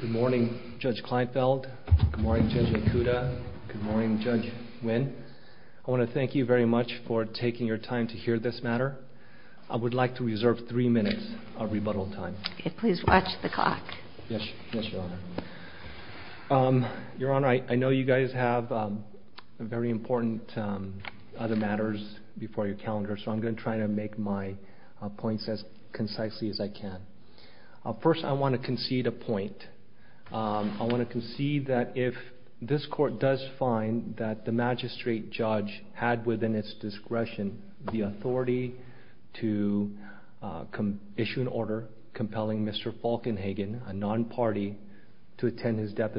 Good morning, Judge Kleinfeld. Good morning, Judge Okuda. Good morning, Judge Nguyen. I want to thank you very much for taking your time to hear this matter. I would like to reserve three minutes of rebuttal time. Please watch the clock. Yes, Your Honor. Your Honor, I know you guys have very important other matters before your calendar, so I'm going to try to make my points as concisely as I can. First, I want to concede a point. I want to concede that if this court does find that the magistrate judge had within its discretion the authority to issue an order compelling Mr. Falkenhagen, a non-party, to attend his of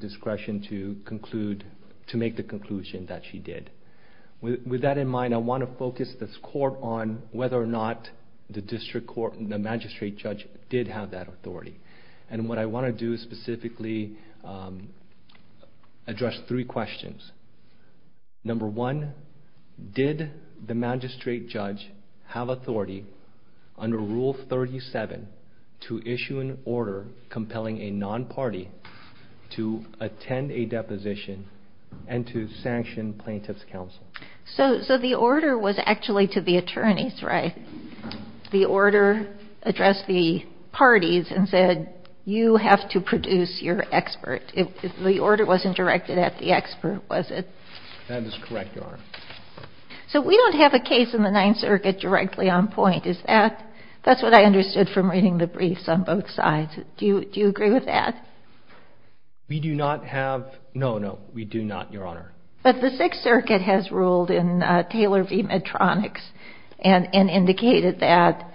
discretion to make the conclusion that she did. With that in mind, I want to focus this court on whether or not the magistrate judge did have that authority. What I want to do is specifically address three questions. Number one, did the magistrate judge have authority under Rule 37 to issue an order compelling a non-party to attend a deposition and to sanction plaintiff's counsel? So the order was actually to the attorneys, right? The order addressed the parties and said, you have to produce your expert. The order wasn't directed at the expert, was it? That is correct, Your Honor. So we don't have a non-point. That's what I understood from reading the briefs on both sides. Do you agree with that? We do not have, no, no, we do not, Your Honor. But the Sixth Circuit has ruled in Taylor v. Medtronics and indicated that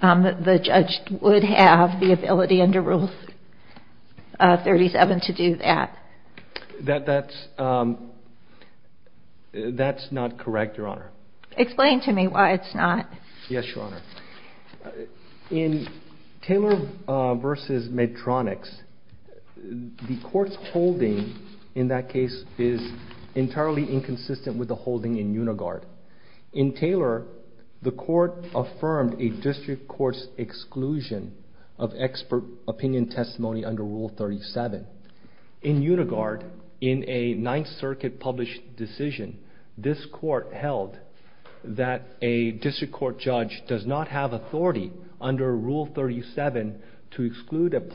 the judge would have the ability under Rule 37 to do that. That's not correct, Your Honor. Explain to me why it's not. Yes, Your Honor. In Taylor v. Medtronics, the court's holding in that case is entirely inconsistent with the holding in Unigard. In Taylor, the court affirmed a district court's exclusion of expert witness testimony under Rule 37. In Unigard, in a Ninth Circuit-published decision, this court held that a district court judge does not have authority under Rule 37 to exclude an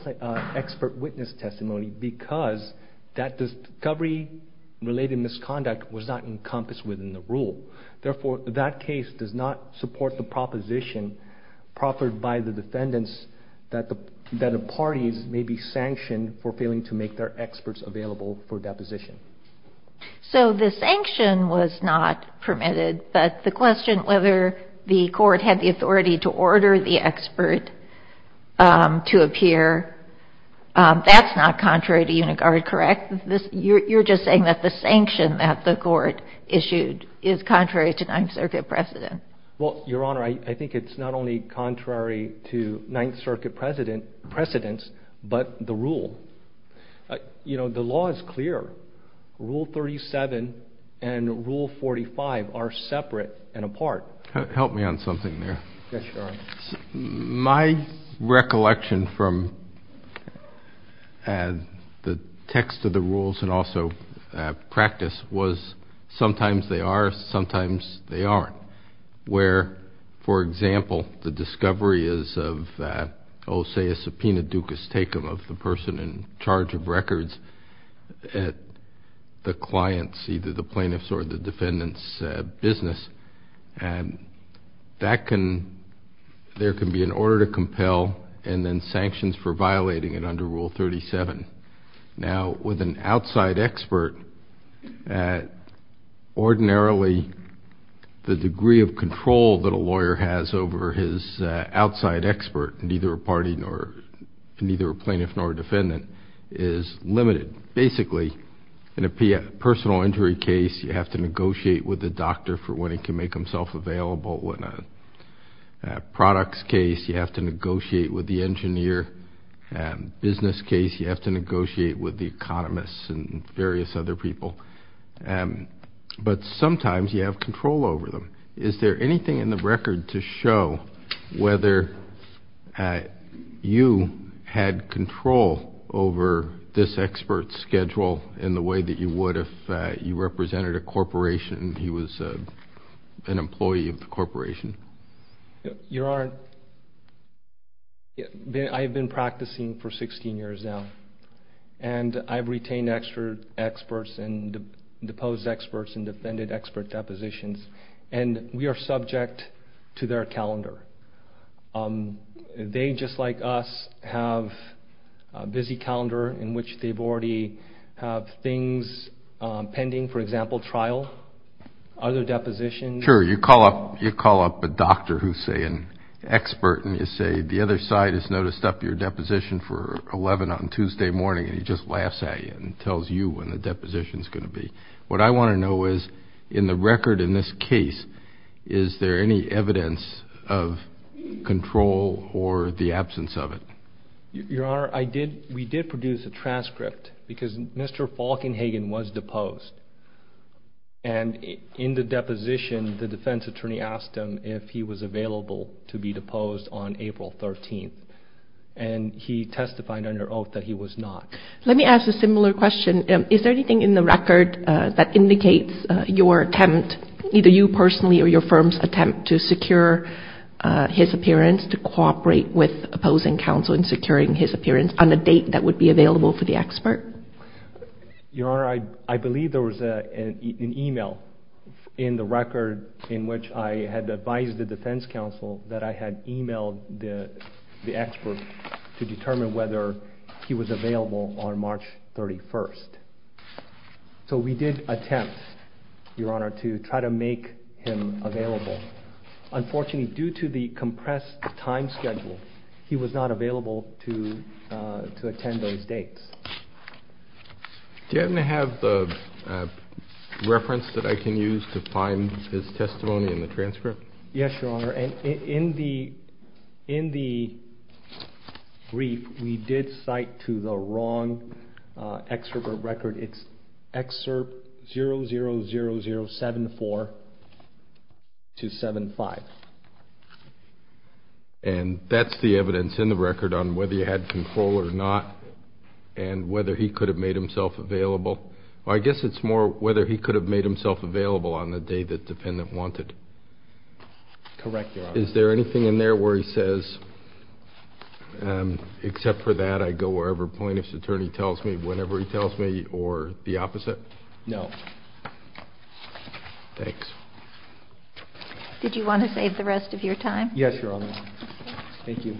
expert witness testimony because that discovery-related misconduct was not encompassed within the rule. Therefore, that case does not support the proposition proffered by the defendants that the parties may be sanctioned for failing to make their experts available for deposition. So the sanction was not permitted, but the question whether the court had the authority to order the expert to appear, that's not contrary to Unigard, correct? You're just saying that the sanction that the court issued is contrary to Ninth Circuit precedent? Well, Your Honor, I think it's not only contrary to Ninth Circuit precedents, but the rule. You know, the law is clear. Rule 37 and Rule 45 are separate and apart. Help me on something there. Yes, Your Honor. My recollection from the text of the rules and also practice was sometimes they are, sometimes they aren't, where, for example, the discovery is of, say, a subpoena ducus tecum of the person in charge of records at the client's, either the plaintiff's or the defendant's business, and there can be an order to compel and then sanctions for violating it under Rule 37. Now, with an outside expert, ordinarily, the degree of control that a lawyer has over his outside expert, neither a party nor, neither a plaintiff nor a defendant, is limited. Basically, in a personal injury case, you have to negotiate with the doctor for when he can make himself available. In a products case, you have to negotiate with the engineer. In a business case, you have to negotiate with the economists and various other people, but sometimes you have control over them. Is there anything in the record to show whether you had control over this expert's schedule in the way that you would if you represented a corporation and he was an employee of the corporation? Your Honor, I've been practicing for 16 years now, and I've retained experts and deposed experts and defended expert depositions, and we are subject to their calendar. They, just like us, have a busy calendar in which they've already have things pending, for example, trial, other depositions. Sure, you call up, you call up a doctor who's, say, an expert and you say, the other side has noticed up your deposition for 11 on Tuesday morning, and he just laughs at you and tells you when the deposition is going to be. What I want to know is, in the record in this case, is there any evidence of control or the absence of it? Your Honor, I did, we did produce a transcript because Mr. Falkenhagen was deposed, and in the deposition, the defense attorney asked him if he was available to be deposed on April 13th, and he testified under oath that he was not. Let me ask a similar question. Is there anything in the record that indicates your attempt, either you personally or your firm's attempt to secure his appearance, to cooperate with opposing counsel in securing his appearance on a date that would be available for the expert? Your Honor, I believe there was an email in the record in which I had advised the defense counsel that I had emailed the expert to determine whether he was available on March 31st. So we did attempt, Your Honor, to try to make him available. Unfortunately, due to the compressed time schedule, he was not available to attend those dates. Do you happen to have the reference that I can use to find his testimony in the transcript? Yes, Your Honor, and in the brief, we did cite to the wrong excerpt of record, it's excerpt 000074-75. And that's the evidence in the record on whether you had control or not, and whether he could have made himself available? I guess it's more whether he could have made himself available on the day that the defendant wanted. Correct, Your Honor. Is there anything in there where he says, except for that, I go wherever plaintiff's attorney tells me, whenever he tells me, or the opposite? No. Thanks. Did you want to save the rest of your time? Yes, Your Honor. Thank you.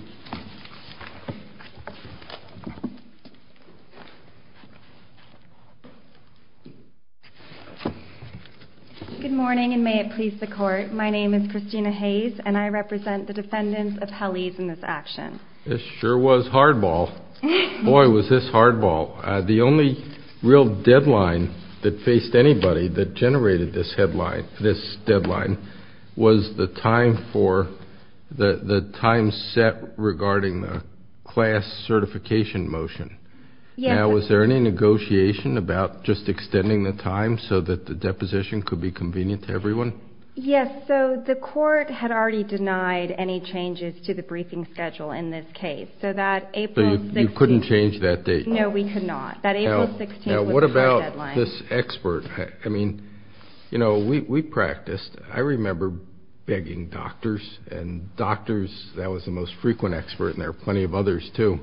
Good morning, and may it please the Court. My name is Christina Hayes, and I represent the defendants of Hallease in this action. This sure was hardball. Boy, was this hardball. The only real deadline that faced anybody that generated this deadline was the time set regarding the class certification motion. Now, was there any negotiation about just extending the time so that the deposition could be convenient to everyone? Yes, so the Court had already denied any changes to the briefing schedule in this case, so that April 16th... So you couldn't change that date? No, we could not. That April 16th was the time deadline. Now, what about this expert? I mean, you know, we practiced. I remember begging doctors, and doctors, that was the most frequent expert, and there were plenty of others too,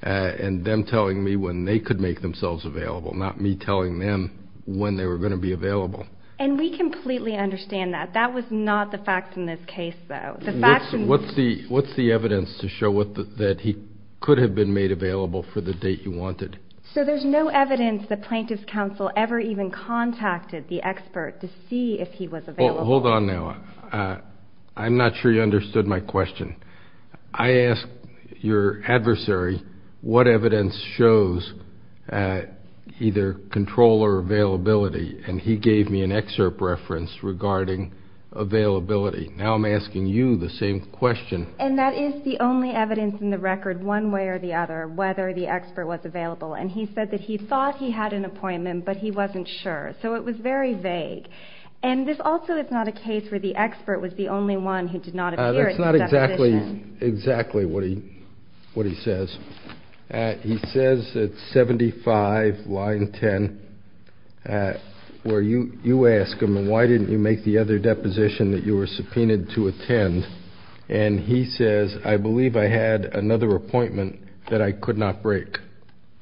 and them telling me when they could make themselves available, not me telling them when they were going to be available. And we completely understand that. That was not the fact in this case, though. What's the evidence to show that he could have been made available for the date you wanted? So there's no evidence the Plaintiff's Counsel ever even contacted the expert to see if he was available? Hold on now. I'm not sure you understood my question. I asked your adversary what evidence shows either control or availability, and he gave me an excerpt reference regarding availability. Now I'm asking you the same question. And that is the only evidence in the record, one way or the other, whether the expert was available. And he said that he thought he had an appointment, but he wasn't sure. So it was very vague. And this also is not a case where the expert was the only one who did not appear at the deposition. That's not exactly what he says. He says at 75, line 10, where you ask him, why didn't you make the other deposition that you were subpoenaed to attend? And he says, I believe I had another appointment that I could not break.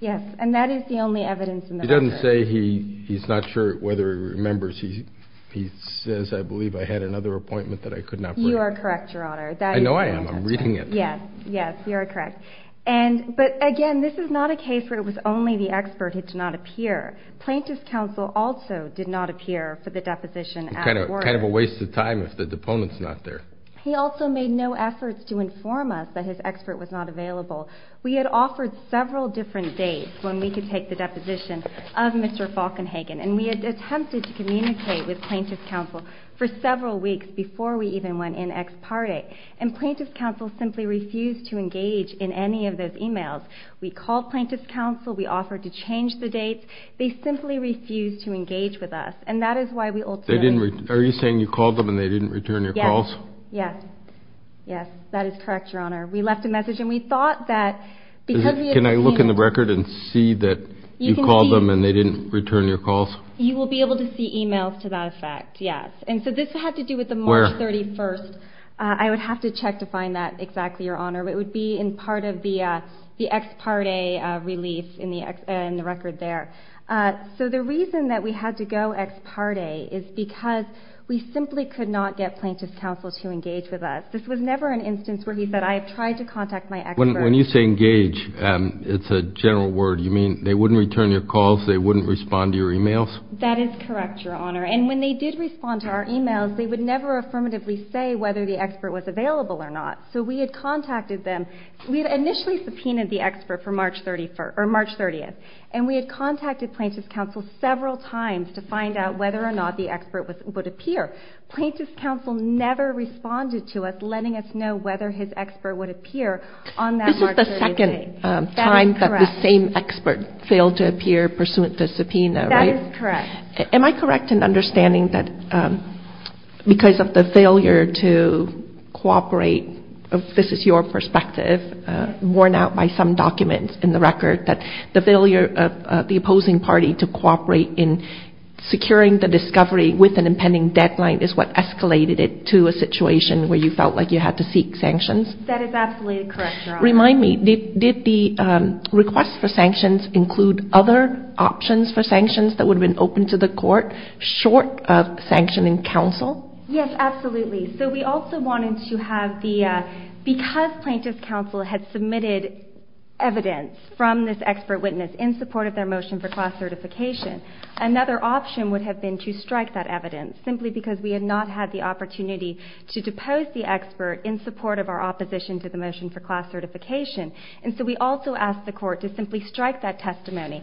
Yes. And that is the only evidence in the record. He doesn't say he's not sure whether he remembers. He says, I believe I had another appointment that I could not break. You are correct, Your Honor. I know I am. I'm reading it. Yes. Yes. You are correct. But again, this is not a case where it was only the expert who did not make the deposition. Kind of a waste of time if the deponent's not there. He also made no efforts to inform us that his expert was not available. We had offered several different dates when we could take the deposition of Mr. Falkenhagen. And we had attempted to communicate with plaintiff's counsel for several weeks before we even went in ex parte. And plaintiff's counsel simply refused to engage in any of those emails. We called plaintiff's counsel. We offered to change the dates. They simply refused to engage with us. And that is why we ultimately... Are you saying you called them and they didn't return your calls? Yes. Yes. Yes. That is correct, Your Honor. We left a message and we thought that... Can I look in the record and see that you called them and they didn't return your calls? You will be able to see emails to that effect. Yes. And so this had to do with the March 31st. I would have to check to find that exactly, Your Honor. It would be in part of the ex parte relief in the record there. So the reason that we had to go ex parte is because we simply could not get plaintiff's counsel to engage with us. This was never an instance where he said, I have tried to contact my expert. When you say engage, it's a general word. You mean they wouldn't return your calls? They wouldn't respond to your emails? That is correct, Your Honor. And when they did respond to our emails, they would never affirmatively say whether the expert was available or not. So we had contacted them. We had initially subpoenaed the expert for March 31st, or March 30th, and we had contacted plaintiff's counsel several times to find out whether or not the expert would appear. Plaintiff's counsel never responded to us, letting us know whether his expert would appear on that March 30th date. This is the second time that the same expert failed to appear pursuant to subpoena, right? That is correct. Am I correct in understanding that because of the worn out by some documents in the record, that the failure of the opposing party to cooperate in securing the discovery with an impending deadline is what escalated it to a situation where you felt like you had to seek sanctions? That is absolutely correct, Your Honor. Remind me, did the request for sanctions include other options for sanctions that would have been open to the court, short of sanctioning counsel? Yes, absolutely. So we also wanted to have the, because plaintiff's counsel had submitted evidence from this expert witness in support of their motion for class certification, another option would have been to strike that evidence, simply because we had not had the opportunity to depose the expert in support of our opposition to the motion for class certification. And so we also asked the court to simply strike that testimony.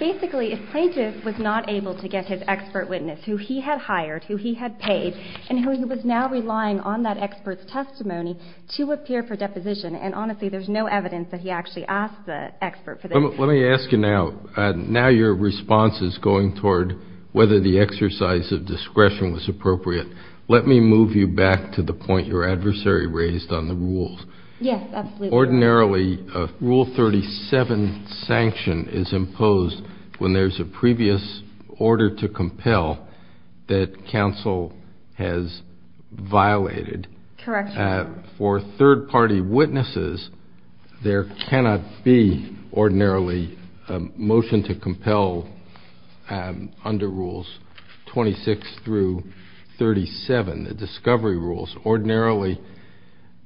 Basically, if plaintiff was not able to get his expert witness, who he had hired, who he had paid, and who he was now relying on that expert's testimony to appear for deposition. And honestly, there's no evidence that he actually asked the expert for this. Let me ask you now, now your response is going toward whether the exercise of discretion was appropriate. Let me move you back to the point your adversary raised on the rules. Yes, absolutely. Ordinarily, Rule 37 sanction is imposed when there's a previous order to compel that counsel has violated. Correct. For third-party witnesses, there cannot be ordinarily a motion to compel under Rules 26 through 37, the discovery rules. Ordinarily,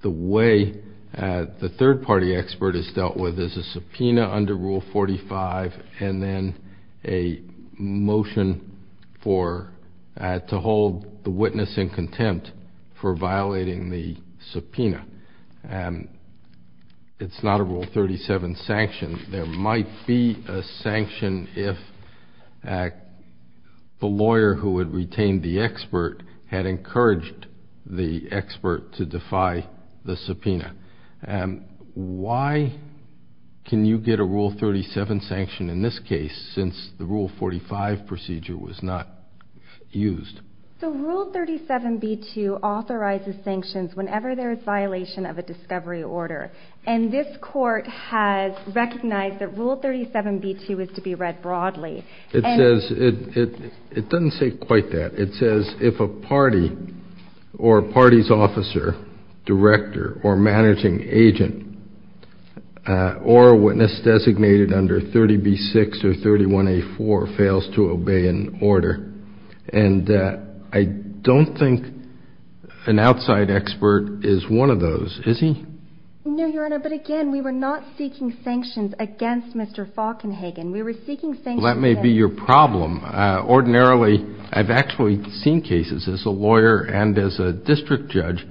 the way the third-party expert is subpoena under Rule 45, and then a motion to hold the witness in contempt for violating the subpoena. It's not a Rule 37 sanction. There might be a sanction if the lawyer who had retained the the expert to defy the subpoena. Why can you get a Rule 37 sanction in this case, since the Rule 45 procedure was not used? The Rule 37b2 authorizes sanctions whenever there is violation of a discovery order. And this court has recognized that Rule 37b2 is to be read broadly. It says — it doesn't say quite that. It says if a party or a party's officer, director, or managing agent, or a witness designated under 30b6 or 31a4 fails to obey an order. And I don't think an outside expert is one of those, is he? No, Your Honor, but again, we were not seeking sanctions against Mr. Falkenhagen. We were seeking sanctions — That may be your problem. Ordinarily, I've actually seen cases as a lawyer and as a district judge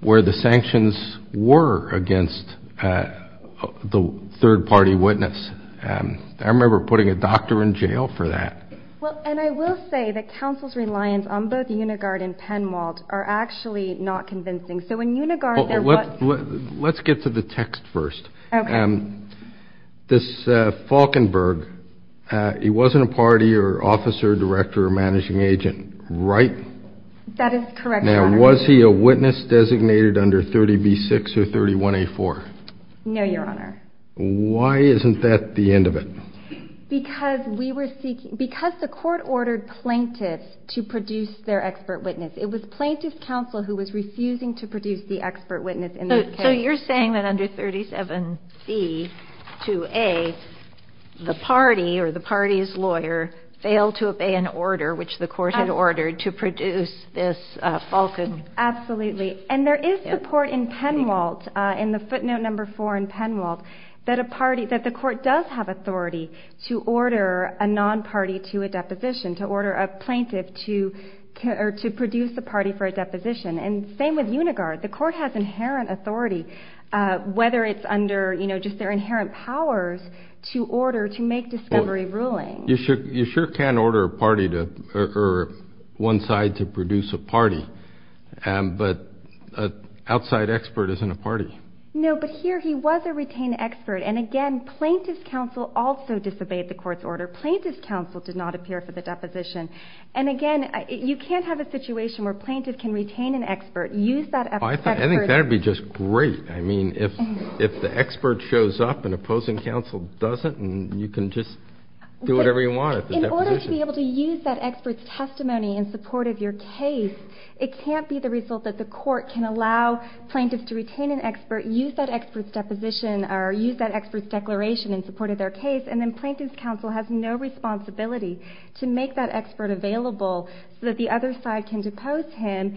where the sanctions were against the third-party witness. I remember putting a doctor in jail for that. Well, and I will say that counsel's reliance on both Unigard and Penwalt are actually not convincing. So in Unigard, there was — Let's get to the text first. Okay. This Falkenberg, he wasn't a party or officer, director, or managing agent, right? That is correct, Your Honor. Now, was he a witness designated under 30b6 or 31a4? No, Your Honor. Why isn't that the end of it? Because we were seeking — because the court ordered plaintiffs to produce their expert witness. It was plaintiff's counsel who was refusing to produce the expert witness in this case. So you're saying that under 37b2a, the party or the party's lawyer failed to obey an order which the court had ordered to produce this Falken — Absolutely. And there is support in Penwalt, in the footnote number four in Penwalt, that a party — that the court does have authority to order a non-party to a deposition, to order a plaintiff to produce the party for a deposition. And same with Unigard. The court has inherent authority, whether it's under, you know, just their inherent powers to order, to make discovery ruling. You sure can order a party to — or one side to produce a party. But an outside expert isn't a party. No, but here he was a retained expert. And again, plaintiff's counsel also disobeyed the court's order. Plaintiff's counsel did not appear for the deposition. And again, you can't have a situation where plaintiff can retain an expert, use that — I think that would be just great. I mean, if the expert shows up and opposing counsel doesn't, you can just do whatever you want at the deposition. In order to be able to use that expert's testimony in support of your case, it can't be the result that the court can allow plaintiffs to retain an expert, use that expert's deposition, or use that expert's declaration in support of their case, and then plaintiff's counsel has no responsibility to make that expert available so that the other side can depose him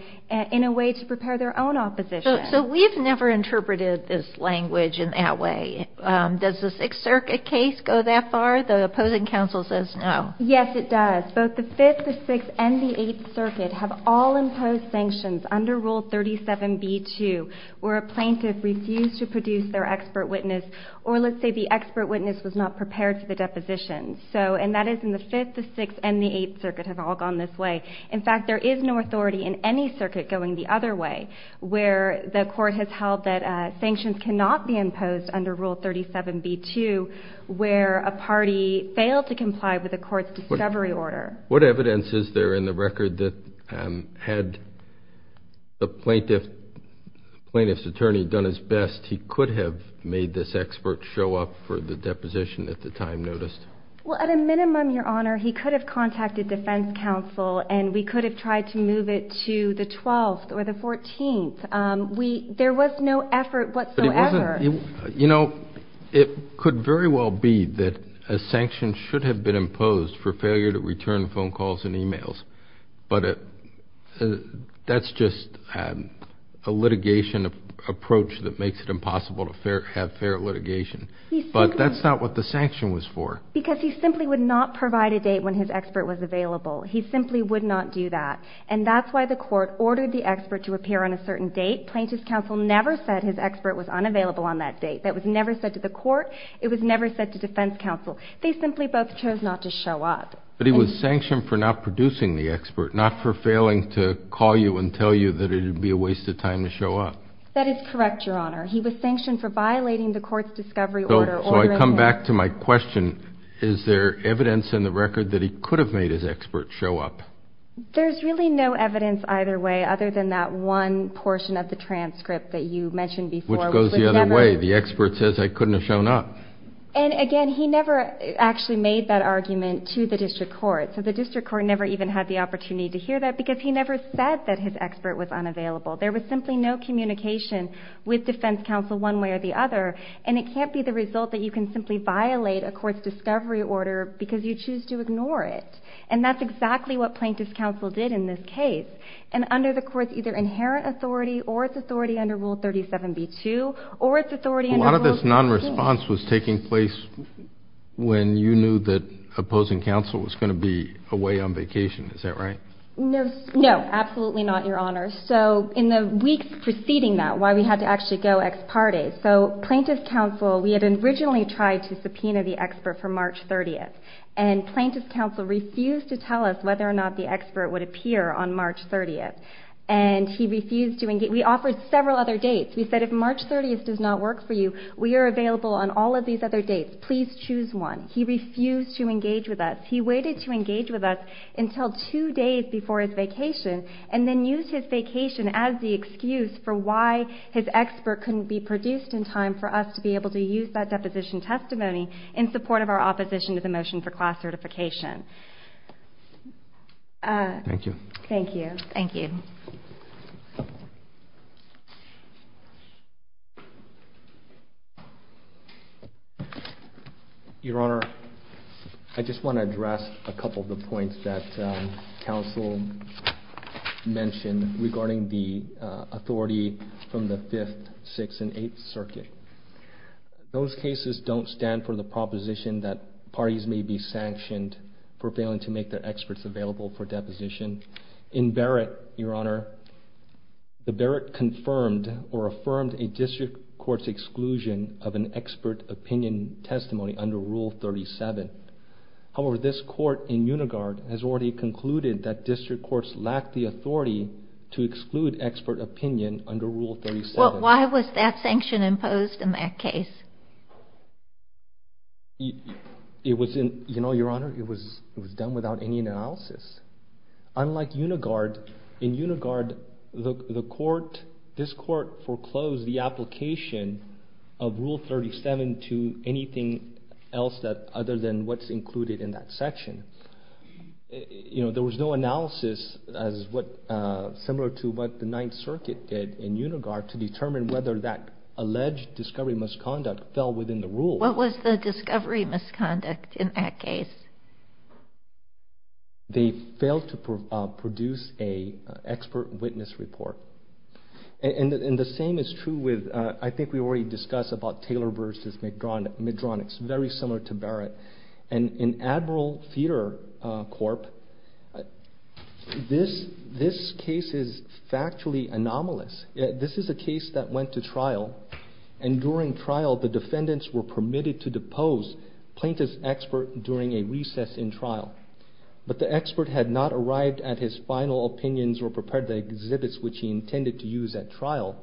in a way to prepare their own opposition. So we've never interpreted this language in that way. Does the Sixth Circuit case go that far? The opposing counsel says no. Yes, it does. Both the Fifth, the Sixth, and the Eighth Circuit have all imposed sanctions under Rule 37b-2 where a plaintiff refused to produce their expert witness, or let's say the expert witness was not prepared for the deposition. And that is in the Fifth, the Sixth, and the Eighth Circuit have all gone this way. In fact, there is no authority in any circuit going the other way where the court has held that sanctions cannot be imposed under Rule 37b-2 where a party failed to comply with the court's discovery order. What evidence is there in the record that had the plaintiff's attorney done his best, he could have made this expert show up for the deposition at the time noticed? Well, at a minimum, Your Honor, he could have contacted defense counsel and we could have tried to move it to the 12th or the 14th. There was no effort whatsoever. You know, it could very well be that a sanction should have been imposed for failure to return phone calls and emails. But that's just a litigation approach that makes it impossible to have fair litigation. But that's not what the sanction was for. Because he simply would not provide a date when his expert was available. He simply would not do that. And that's why the court ordered the expert to appear on a certain date. Plaintiff's counsel never said his expert was unavailable on that date. That was never said to the court. It was never said to defense counsel. They simply both chose not to show up. But he was sanctioned for not producing the expert, not for failing to call you and tell you that it would be a waste of time to show up. That is correct, Your Honor. He was sanctioned for violating the court's discovery order. So I come back to my question. Is there evidence in the record that he could have made his expert show up? There's really no evidence either way other than that one portion of the transcript that you mentioned before. Which goes the other way. The expert says I couldn't have shown up. And again, he never actually made that argument to the district court. So the district court never even had the opportunity to hear that because he never said that his expert was unavailable. There was simply no communication with defense counsel one way or the other. And it can't be the result that you can simply violate a court's discovery order because you choose to ignore it. And that's exactly what plaintiff's counsel did in this case. And under the court's either inherent authority or its authority under Rule 37b-2 or its authority under Rule 37b-2. A lot of this non-response was taking place when you knew that opposing counsel was going to be away on vacation. Is that right? No, absolutely not, Your Honor. So in the weeks preceding that, we had to actually go ex parte. So plaintiff's counsel, we had originally tried to subpoena the expert for March 30th. And plaintiff's counsel refused to tell us whether or not the expert would appear on March 30th. And he refused to engage. We offered several other dates. We said if March 30th does not work for you, we are available on all of these other dates. Please choose one. He refused to engage with us. He waited to engage with us until two days before his vacation and then used his vacation as the excuse for why his expert couldn't be produced in time for us to be able to use that deposition testimony in support of our opposition to the motion for class certification. Thank you. Thank you. Thank you. Thank you. Your Honor, I just want to address a couple of the points that counsel mentioned regarding the authority from the Fifth, Sixth, and Eighth Circuit. Those cases don't stand for the proposition that parties may be sanctioned for failing to make their experts available for or affirmed a district court's exclusion of an expert opinion testimony under Rule 37. However, this court in Unigard has already concluded that district courts lack the authority to exclude expert opinion under Rule 37. Why was that sanction imposed in that case? You know, Your Honor, it was done without any analysis. Unlike Unigard, in Unigard, the court, this court foreclosed the application of Rule 37 to anything else that other than what's included in that section. You know, there was no analysis as what, similar to what the Ninth Circuit did in Unigard to determine whether that alleged discovery misconduct fell within the rule. What was the discovery misconduct in that case? They failed to produce an expert witness report. And the same is true with, I think we already discussed about Taylor v. Medronix, very similar to Barrett. And in Admiral Feeder Corp., this case is factually anomalous. This is a case that went to trial, and during trial, the defendants were permitted to depose plaintiff's expert during a recess in trial. But the expert had not arrived at his final opinions or prepared the exhibits which he intended to use at trial.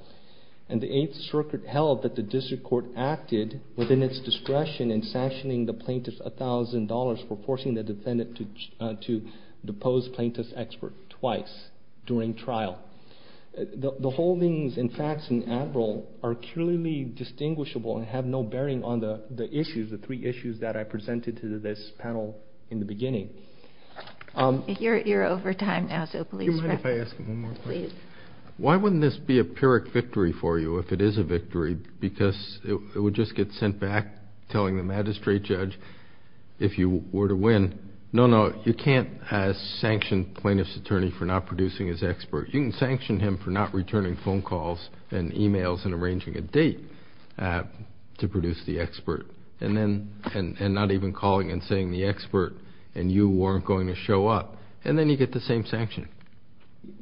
And the Eighth Circuit held that the district court acted within its discretion in sanctioning the plaintiff $1,000 for forcing the defendant to depose plaintiff's expert twice during trial. The holdings and facts in Admiral are clearly distinguishable and have no bearing on the issues, the three issues that I presented to this panel in the beginning. You're over time now, so please wrap up. Why wouldn't this be a Pyrrhic victory for you if it is a victory? Because it would just get sent back telling the magistrate judge, if you were to win, no, no, you can't sanction plaintiff's attorney for not producing his expert. You can sanction him for not returning phone calls and emails and arranging a date. To produce the expert. And then, and not even calling and saying the expert and you weren't going to show up. And then you get the same sanction.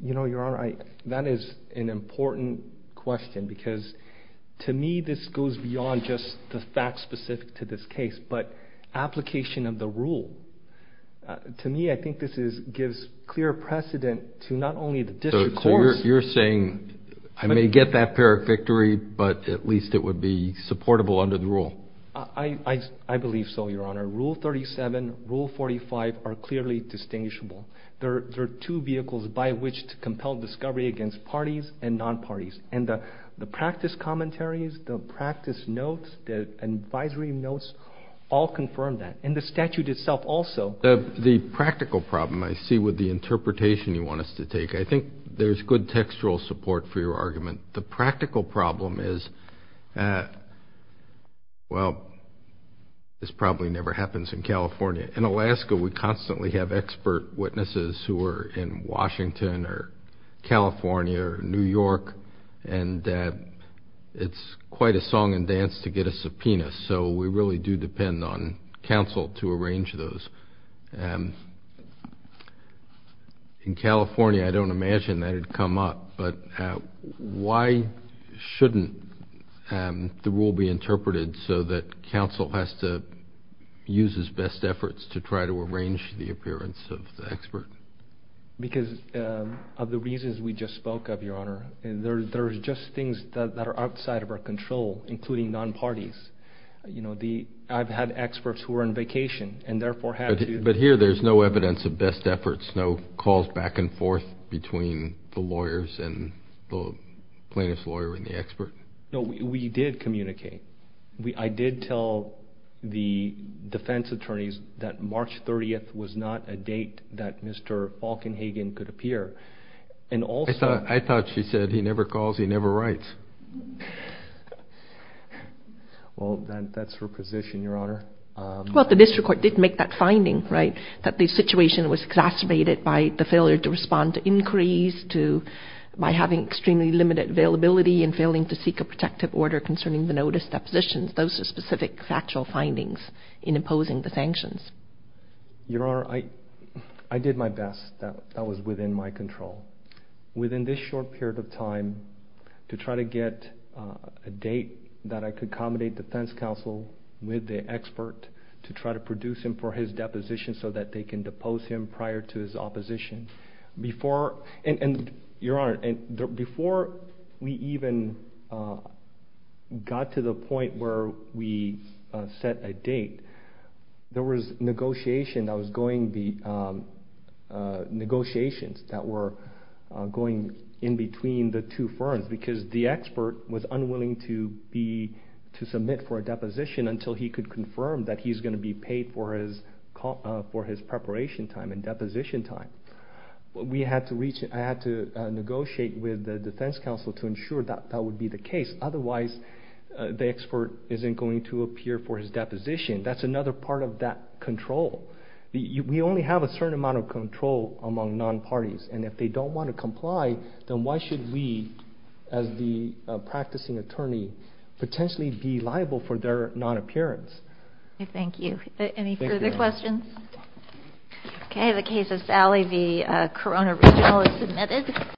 You know, Your Honor, that is an important question because to me, this goes beyond just the facts specific to this case, but application of the rule. To me, I think this is gives clear precedent to not only the district you're saying I may get that Pyrrhic victory, but at least it would be supportable under the rule. I believe so. Your Honor rule 37 rule 45 are clearly distinguishable. There are two vehicles by which to compel discovery against parties and non-parties and the practice commentaries, the practice notes, the advisory notes all confirmed that in the statute itself. Also the practical problem I see with the interpretation you want us to take, I think there's good textual support for your argument. The practical problem is, well, this probably never happens in California. In Alaska, we constantly have expert witnesses who are in Washington or California or New York, and it's quite a song and dance to get a subpoena. So we really do depend on counsel to arrange those. In California, I don't imagine that had come up, but why shouldn't the rule be interpreted so that counsel has to use his best efforts to try to arrange the appearance of the expert? Because of the reasons we just spoke of, Your Honor, there's just things that are outside of control, including non-parties. I've had experts who were on vacation and therefore had to- But here there's no evidence of best efforts, no calls back and forth between the lawyers and the plaintiff's lawyer and the expert. No, we did communicate. I did tell the defense attorneys that March 30th was not a date that Mr. Falkenhagen could appear. And also- I thought she said he never calls, he never writes. Well, that's her position, Your Honor. Well, the district court did make that finding, right, that the situation was exacerbated by the failure to respond to inquiries, by having extremely limited availability and failing to seek a protective order concerning the notice depositions. Those are specific factual findings in imposing the sanctions. Your Honor, I did my best. That was within my control. Within this short period of time, to try to get a date that I could accommodate defense counsel with the expert to try to produce him for his deposition so that they can depose him prior to his opposition. Before- And Your Honor, before we even got to the point where we set a date, there was negotiation that was going- Negotiations that were going in between the two firms. The expert was unwilling to submit for a deposition until he could confirm that he's going to be paid for his preparation time and deposition time. We had to reach- I had to negotiate with the defense counsel to ensure that that would be the case. Otherwise, the expert isn't going to appear for his deposition. That's another part of that control. We only have a certain amount of control among non-parties. And if they don't want to comply, then why should we, as the practicing attorney, potentially be liable for their non-appearance? Thank you. Any further questions? Okay. The case of Sally v. Corona Regional is submitted.